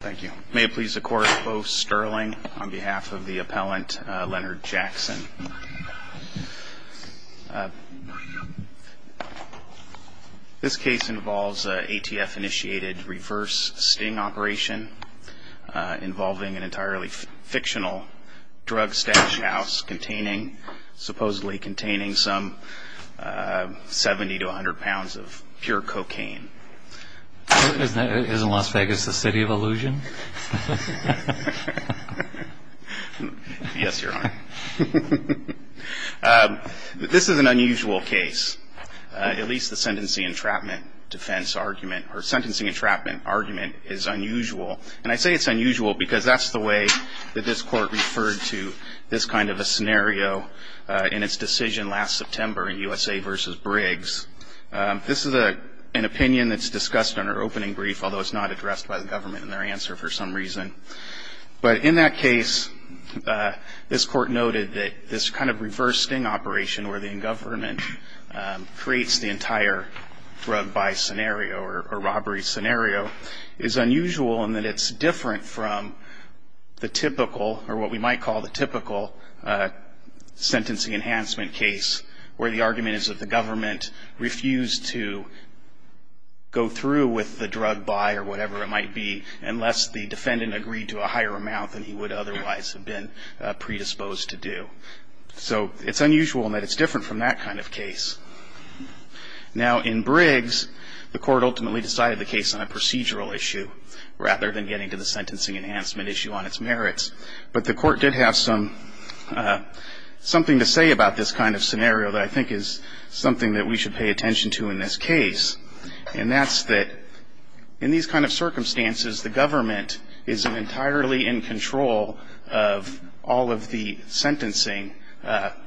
Thank you. May it please the court, Bo Sterling on behalf of the appellant, Leonard Jackson. This case involves an ATF-initiated reverse sting operation involving an entirely fictional drug stash house containing, supposedly containing some 70 to 100 pounds of pure cocaine. Is Las Vegas the city of illusion? Yes, Your Honor. This is an unusual case. At least the sentencing entrapment defense argument, or sentencing entrapment argument is unusual. And I say it's unusual because that's the way that this Court referred to this kind of a scenario in its decision last September in USA v. Briggs. This is an opinion that's discussed in our opening brief, although it's not addressed by the government in their answer for some reason. But in that case, this Court noted that this kind of reverse sting operation where the in-government creates the entire drug buy scenario or robbery scenario is unusual in that it's different from the typical, or what we might call the typical, sentencing enhancement case where the argument is that the government refused to go through with the drug buy or whatever it might be unless the defendant agreed to a higher amount than he would otherwise have been predisposed to do. So it's unusual in that it's different from that kind of case. Now in Briggs, the Court ultimately decided the case on a procedural issue rather than getting to the sentencing enhancement issue on its own, which I think is something that we should pay attention to in this case. And that's that in these kind of circumstances, the government is entirely in control of all of the sentencing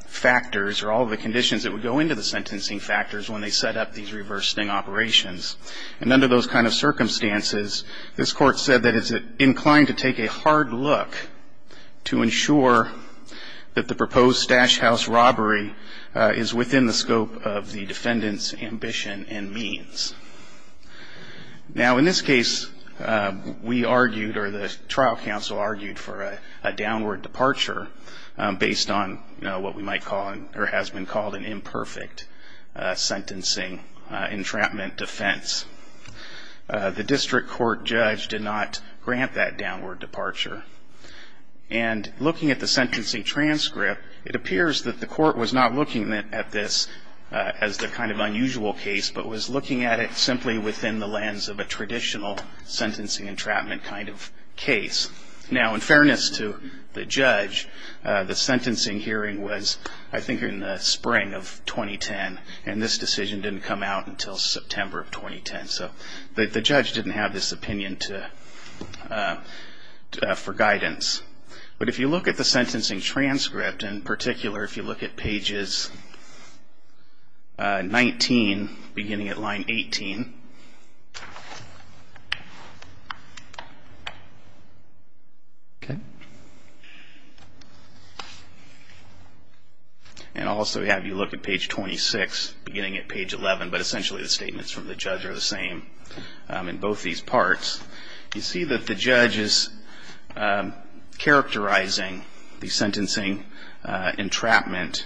factors, or all of the conditions that would go into the sentencing factors when they set up these reverse sting operations. And under those kind of circumstances, this Court said that it's inclined to take a hard look to ensure that the proposed dash house robbery is within the scope of the defendant's ambition and means. Now in this case, we argued, or the trial counsel argued, for a downward departure based on what we might call, or has been called, an imperfect sentencing entrapment defense. The district court judge did not It appears that the Court was not looking at this as the kind of unusual case, but was looking at it simply within the lens of a traditional sentencing entrapment kind of case. Now in fairness to the judge, the sentencing hearing was I think in the spring of 2010, and this decision didn't come out until in particular, if you look at pages 19, beginning at line 18, and also have you look at page 26, beginning at page 11, but essentially the statements from the judge are the same in both these parts. You see that the judge is characterizing the sentencing entrapment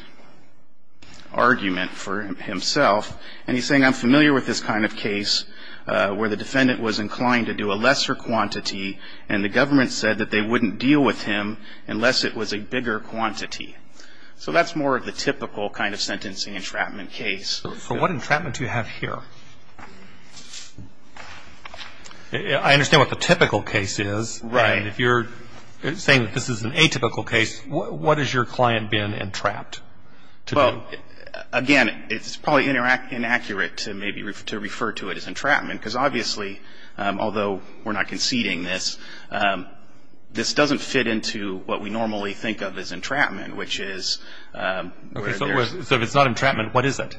argument for himself, and he's saying, I'm familiar with this kind of case where the defendant was inclined to do a lesser quantity, and the government said that they wouldn't deal with him unless it was a bigger quantity. So that's more of the typical kind of sentencing entrapment case. So what entrapment do you have here? I understand what the typical case is, and if you're saying that this is an atypical case, what is your client being entrapped to do? Well, again, it's probably inaccurate to maybe refer to it as entrapment, because obviously, although we're not conceding this, this doesn't fit into what we normally think of as entrapment, which is where there's So if it's not entrapment, what is it?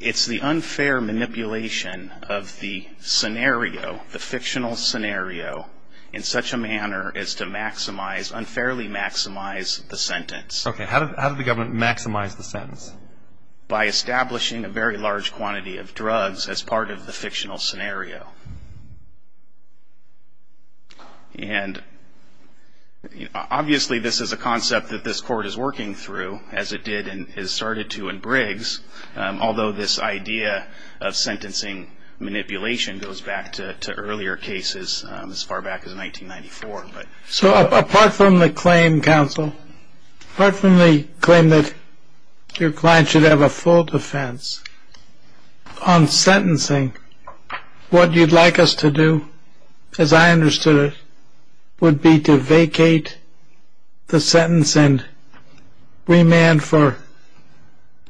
It's the unfair manipulation of the scenario, the fictional scenario, in such a manner as to unfairly maximize the sentence. Okay, how did the government maximize the sentence? By establishing a very large quantity of drugs as part of the fictional scenario. And obviously, this is a concept that this court is working through, as it did and has started to in Briggs, although this idea of sentencing manipulation goes back to earlier cases as far back as 1994. So apart from the claim, counsel, apart from the claim that your client should have a full defense, on sentencing, what do you have to do? What you'd like us to do, as I understood it, would be to vacate the sentence and remand for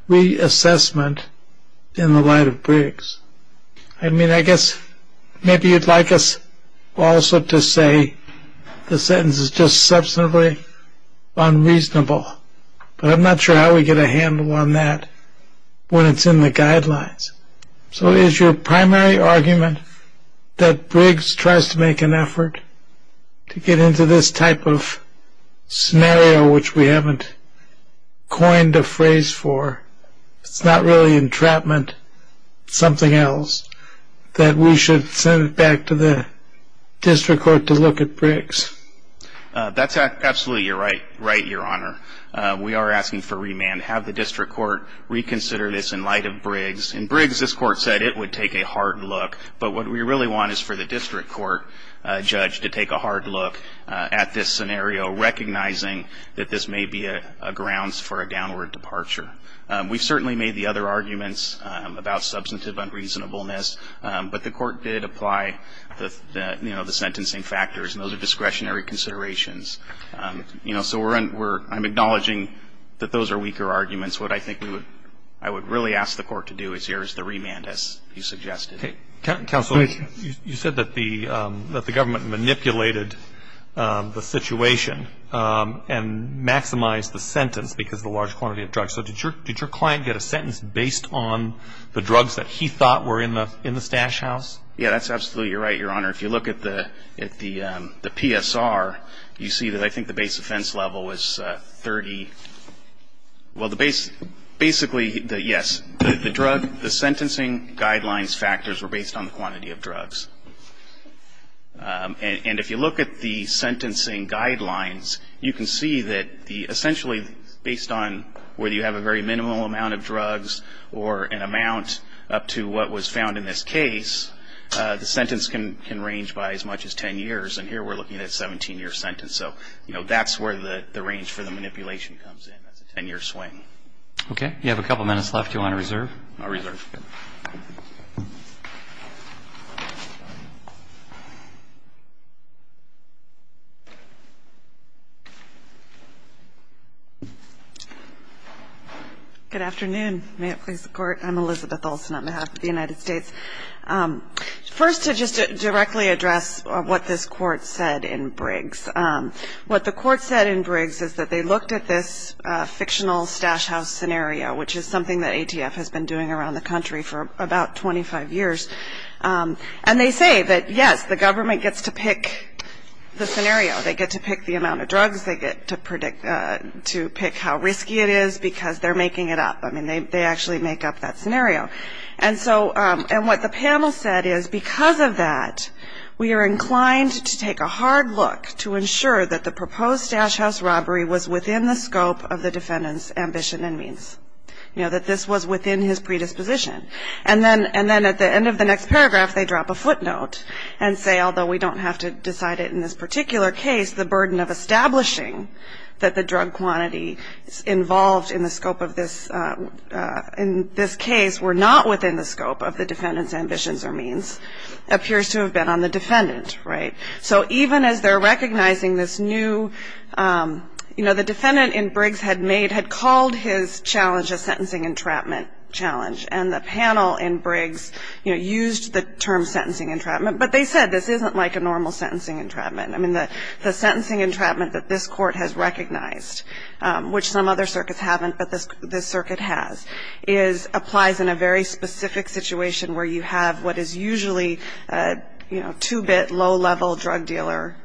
reassessment in the light of Briggs. I mean, I guess maybe you'd like us also to say the sentence is just substantively unreasonable, but I'm not sure how we get a handle on that when it's in the guidelines. So is your primary argument that Briggs tries to make an effort to get into this type of scenario, which we haven't coined a phrase for? It's not really entrapment, it's something else that we should send back to the district court to look at Briggs. That's absolutely right, your honor. We are asking for remand, have the district court reconsider this in light of Briggs. In Briggs, this court said it would take a hard look, but what we really want is for the district court judge to take a hard look at this scenario, recognizing that this may be a grounds for a downward departure. We've certainly made the other arguments about substantive unreasonableness, but the court did apply the sentencing factors, and those are discretionary considerations. So I'm acknowledging that those are weaker arguments. What I think I would really ask the court to do is here is the remand, as you suggested. Counsel, you said that the government manipulated the situation and maximized the sentence because of the large quantity of drugs. So did your client get a sentence based on the drugs that he thought were in the stash house? Yeah, that's absolutely right, your honor. If you look at the PSR, you see that I think the base offense level was 30. Well, basically, yes, the drug, the sentencing guidelines factors were based on the quantity of drugs. And if you look at the sentencing guidelines, you can see that essentially based on whether you have a very minimal amount of drugs or an amount up to what was found in this case, the sentence can range by as much as ten years, and here we're looking at a 17 year sentence. So that's where the range for the manipulation comes in, that's a ten year swing. Okay, you have a couple minutes left, do you want to reserve? I'll reserve. Good afternoon, may it please the court. I'm Elizabeth Olsen on behalf of the United States. First, to just directly address what this court said in Briggs. What the court said in Briggs is that they looked at this fictional stash house scenario, which is something that ATF has been doing around the country for about 25 years. And they say that, yes, the government gets to pick the scenario. They get to pick the amount of drugs, they get to pick how risky it is, because they're making it up. I mean, they actually make up that scenario. And so, and what the panel said is, because of that, we are inclined to take a hard look to ensure that the proposed stash house robbery was within the scope of the defendant's ambition and means. You know, that this was within his predisposition. And then, at the end of the next paragraph, they drop a footnote and say, although we don't have to decide it in this particular case, the burden of establishing that the drug quantity involved in the scope of this, in this case, were not within the scope of the defendant's ambitions or means, appears to have been on the defendant, right? So even as they're recognizing this new, you know, the defendant in Briggs had made, had called his challenge a sentencing entrapment challenge. And the panel in Briggs, you know, used the term sentencing entrapment. But they said this isn't like a normal sentencing entrapment. I mean, the sentencing entrapment that this court has recognized, which some other circuits haven't, but this circuit has, is, applies in a very specific situation where you have what is usually, you know, two-bit, low-level drug dealer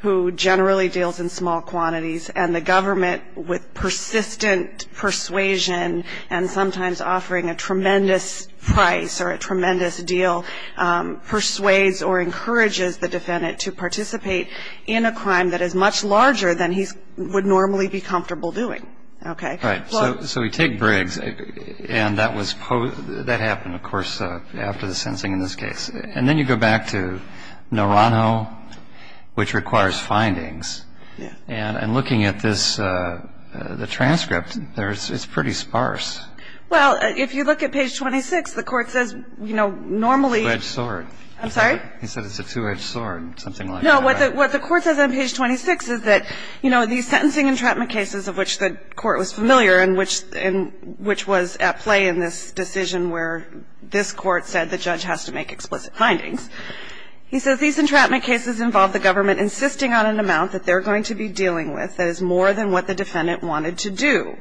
who generally deals in small quantities. And the government, with persistent persuasion and sometimes offering a tremendous price or a tremendous deal, persuades or encourages the defendant to participate in a crime that is much larger than he would normally be comfortable doing, okay? Right. So we take Briggs, and that was, that happened, of course, after the sentencing in this case. And then you go back to Naranjo, which requires findings. Yeah. And looking at this, the transcript, there's, it's pretty sparse. Well, if you look at page 26, the court says, you know, normally the court says that, you know, these sentencing entrapment cases of which the court was familiar and which was at play in this decision where this court said the judge has to make explicit findings, he says these entrapment cases involve the government insisting on an amount that they're going to be dealing with that is more than what the defendant wanted to do.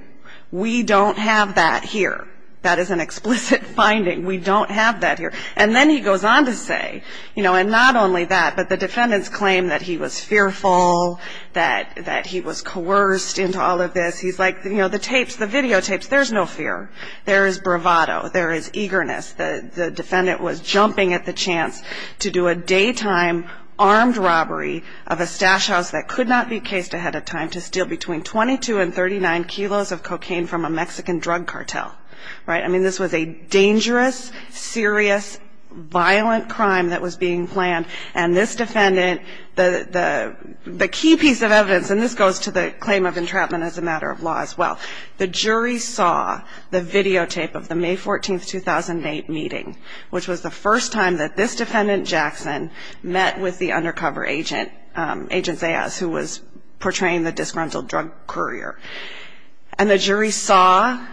We don't have that here. That is an explicit finding. We don't have that here. And then he goes on to say, you know, and not only that, but the defendant's claim that he was fearful, that he was coerced into all of this. He's like, you know, the tapes, the videotapes, there's no fear. There is bravado. There is eagerness. The defendant was jumping at the chance to do a daytime armed robbery of a stash house that could not be cased ahead of time to steal between 22 and 39 kilos of cocaine from a Mexican drug cartel, right? I mean, this was a dangerous, serious, violent crime that was being planned. And this defendant, the key piece of evidence, and this goes to the claim of entrapment as a matter of law as well. The jury saw the videotape of the May 14th, 2008 meeting, which was the first time that this defendant, Jackson, met with the undercover agent, Agent Zayas, who was portraying the disgruntled drug courier. And the jury saw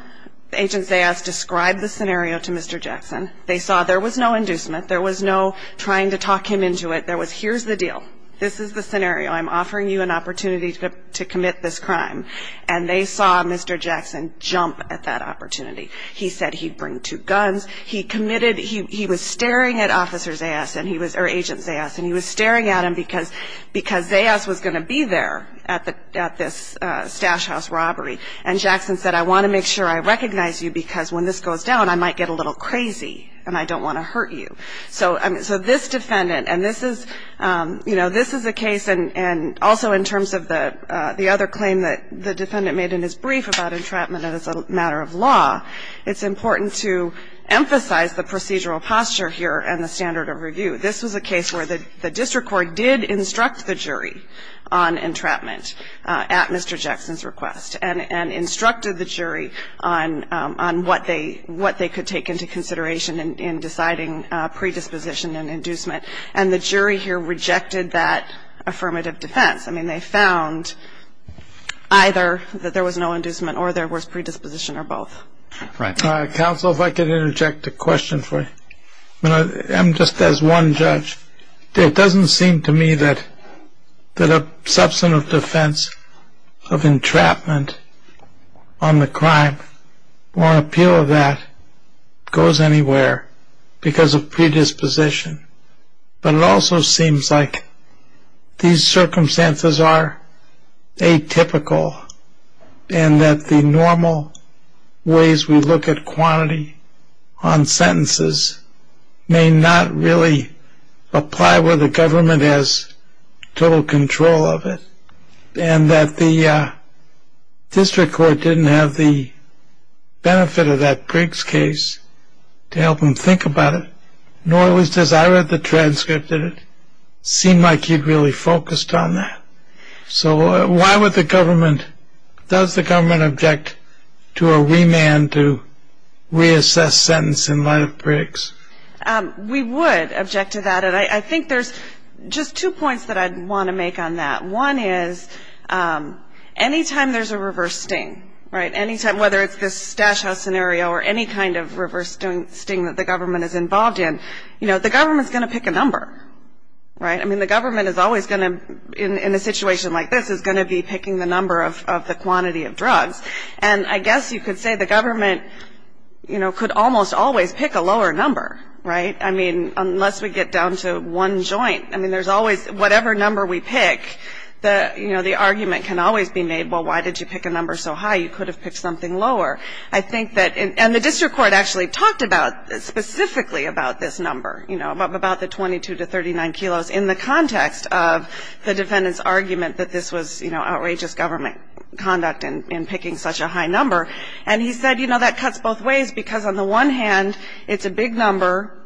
Agent Zayas describe the scenario to Mr. Jackson. They saw there was no inducement. There was no trying to talk him into it. There was, here's the deal. This is the scenario. I'm offering you an opportunity to commit this crime. And they saw Mr. Jackson jump at that opportunity. He said he'd bring two guns. He committed, he was staring at Officer Zayas, or Agent Zayas, and he was staring at him because Zayas was going to be there at this stash house robbery. And Jackson said, I want to make sure I recognize you because when this goes down, I might get a little crazy and I don't want to hurt you. So this defendant, and this is a case, and also in terms of the other claim that the defendant made in his brief about entrapment as a matter of law, it's important to emphasize the procedural posture here and the standard of review. This was a case where the district court did instruct the jury on entrapment at Mr. Jackson's house, and they did instruct the jury on what they could take into consideration in deciding predisposition and inducement. And the jury here rejected that affirmative defense. I mean, they found either that there was no inducement or there was predisposition or both. Right. Counsel, if I could interject a question for you. I'm just as one judge. It doesn't seem to me that a substantive defense of entrapment on the crime or appeal of that goes anywhere because of predisposition. But it also seems like these circumstances are atypical and that the normal ways we look at quantity on sentences may not really apply where the government has total control of it. And that the district court didn't have the benefit of that Briggs case to help them think about it, nor was it as I read the transcript that it seemed like you'd really focused on that. So why would the government does the government object to a remand to reassess sentence in light of Briggs? We would object to that. And I think there's just two points that I'd want to make on that. One is anytime there's a reverse sting, right. Anytime, whether it's this stash house scenario or any kind of reverse sting that the government is involved in. I mean, the government is always going to, in a situation like this, is going to be picking the number of the quantity of drugs. And I guess you could say the government could almost always pick a lower number, right. I mean, unless we get down to one joint. I mean, there's always whatever number we pick, the argument can always be made, well, why did you pick a number so high? You could have picked something lower. I think that, and the district court actually talked about, specifically about this number, you know, about the 22 to 39 kilos in the context of the defendant's argument that this was, you know, outrageous government conduct in picking such a high number. And he said, you know, that cuts both ways because on the one hand, it's a big number.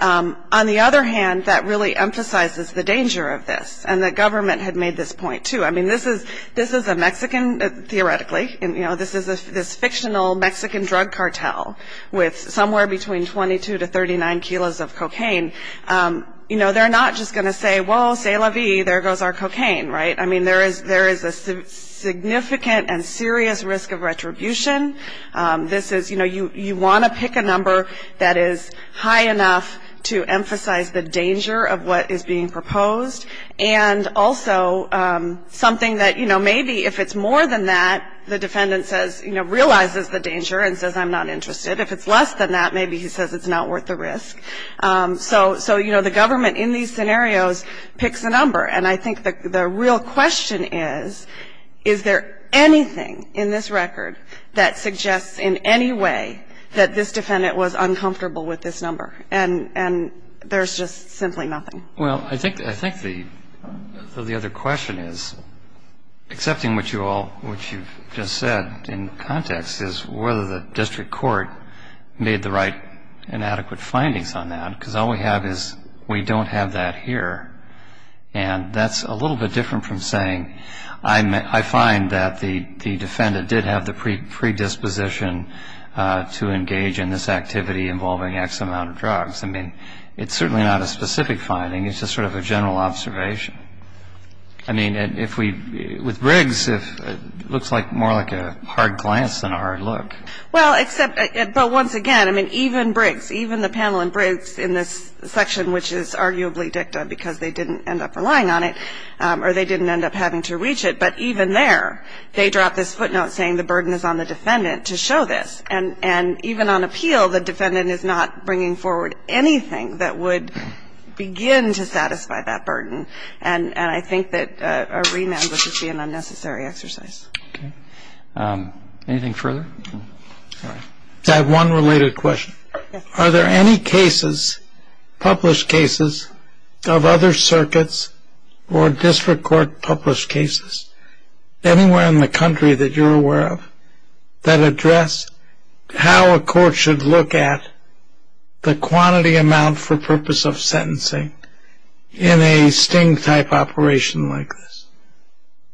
On the other hand, that really emphasizes the danger of this. And the government had made this point too. I mean, this is a Mexican, theoretically. You know, this is this fictional Mexican drug cartel with somewhere between 22 to 39 kilos of cocaine. You know, they're not just going to say, well, c'est la vie, there goes our cocaine, right. I mean, there is a significant and serious risk of retribution. This is, you know, you want to pick a number that is high enough to emphasize the danger of what is being proposed. And also something that, you know, maybe if it's more than that, the defendant says, you know, realizes the danger and says, I'm not interested. If it's less than that, maybe he says it's not worth the risk. So, you know, the government in these scenarios picks a number. And I think the real question is, is there anything in this record that suggests in any way that this defendant was uncomfortable with this number? And there's just simply nothing. Well, I think the other question is, accepting what you all, what you've just said in context, is whether the district court made the right and adequate findings on that. Because all we have is we don't have that here. And that's a little bit different from saying, I find that the defendant did have the predisposition to engage in this activity involving X amount of drugs. I mean, it's certainly not a specific finding. It's just sort of a general observation. I mean, if we, with Briggs, it looks like more like a hard glance than a hard look. Well, except, but once again, I mean, even Briggs, even the panel in Briggs in this section, which is arguably dicta because they didn't end up relying on it, or they didn't end up having to reach it, but even there, they dropped this footnote saying the burden is on the defendant to show this. And even on appeal, the defendant is not bringing forward anything that would begin to satisfy that burden. And I think that a remand would just be an unnecessary exercise. Anything further? I have one related question. Are there any cases, published cases, of other circuits or district court published cases, anywhere in the country that you're aware of, that address how a court should look at the quantity amount for purpose of sentencing in a sting-type operation like this?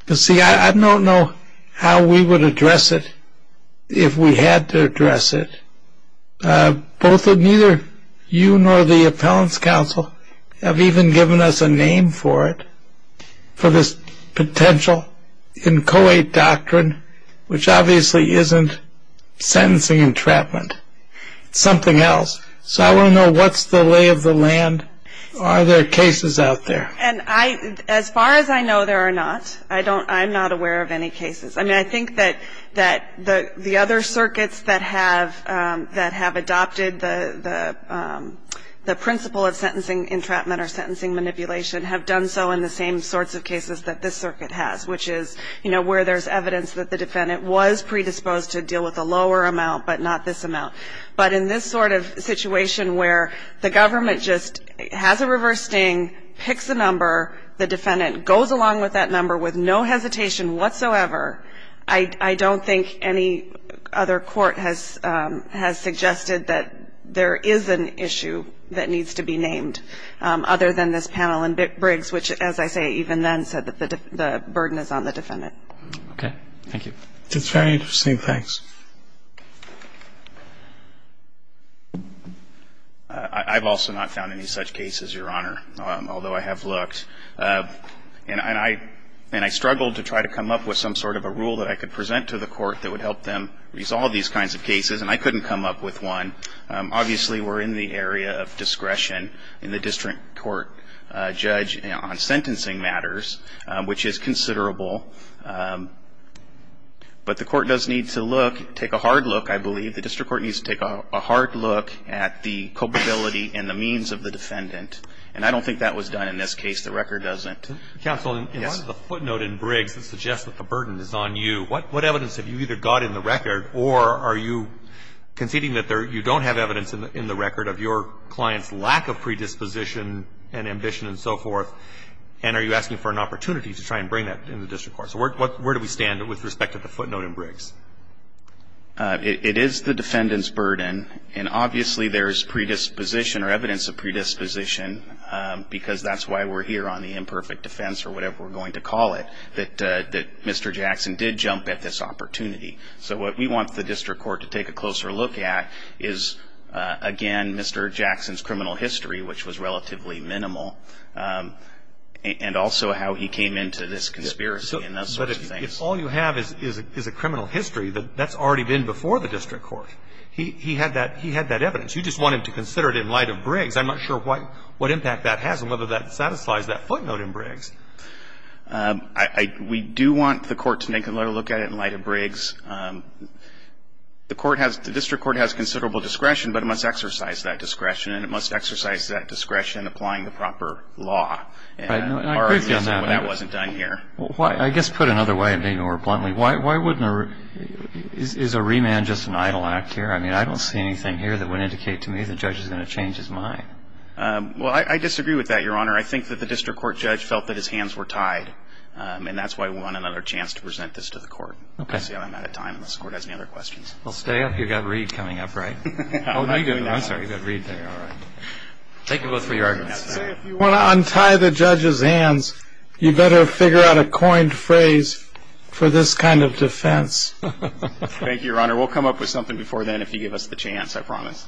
You see, I don't know how we would address it if we had to address it. Both neither you nor the appellant's counsel have even given us a name for it, for this potential inchoate doctrine, which obviously isn't sentencing entrapment. It's something else. So I want to know what's the lay of the land. Are there cases out there? And as far as I know, there are not. I don't, I'm not aware of any cases. I mean, I think that the other circuits that have adopted the principle of sentencing entrapment or sentencing manipulation have done so in the same sorts of cases that this circuit has, which is, you know, where there's evidence that the defendant was predisposed to deal with a lower amount, but not this amount. But in this sort of situation where the government just has a reverse sting, picks a number, the defendant goes along with that number with no hesitation whatsoever, I don't think any other court has suggested that there is an issue that needs to be named, other than this panel in Briggs, which, as I say, even then, said that the burden is on the defendant. Okay. Thank you. That's very interesting. Thanks. I've also not found any such cases, Your Honor, although I have looked. And I struggled to try to come up with some sort of a rule that I could present to the court that would help them resolve these kinds of cases, and I couldn't come up with one. Obviously, we're in the area of discretion in the district court, a judge on sentencing matters, which is considerable. But the court does need to look, take a hard look, I believe. The district court needs to take a hard look at the culpability and the means of the defendant. And I don't think that was done in this case. The record doesn't. Counsel, in the footnote in Briggs that suggests that the burden is on you, what evidence have you either got in the record, or are you conceding that you don't have evidence in the record of your client's lack of predisposition and ambition and so forth, and are you asking for an opportunity to try and bring that in the district court? So where do we stand with respect to the footnote in Briggs? It is the defendant's burden, and obviously there's predisposition or evidence of predisposition, because that's why we're here on the imperfect defense or whatever we're going to call it, that Mr. Jackson did jump at this opportunity. So what we want the district court to take a closer look at is, again, Mr. Jackson's criminal history, which was relatively minimal, and also how he came into this conspiracy and those sorts of things. But if all you have is a criminal history, that's already been before the district court. He had that evidence. You just want him to consider it in light of Briggs. I'm not sure what impact that has and whether that satisfies that footnote in Briggs. We do want the court to take a better look at it in light of Briggs. The district court has considerable discretion, but it must exercise that discretion, and it must exercise that discretion applying the proper law. And that wasn't done here. I guess put another way, maybe more bluntly, is a remand just an idle act here? I mean, I don't see anything here that would indicate to me the judge is going to change his mind. Well, I disagree with that, Your Honor. I think that the district court judge felt that his hands were tied, and that's why we want another chance to present this to the court. Okay. Let's see how I'm out of time, unless the court has any other questions. Well, stay up. You've got Reed coming up, right? Oh, no, you don't. I'm sorry. You've got Reed there. All right. Thank you both for your arguments. See, if you want to untie the judge's hands, you better figure out a coined phrase for this kind of defense. Thank you, Your Honor. We'll come up with something before then if you give us the chance. I promise.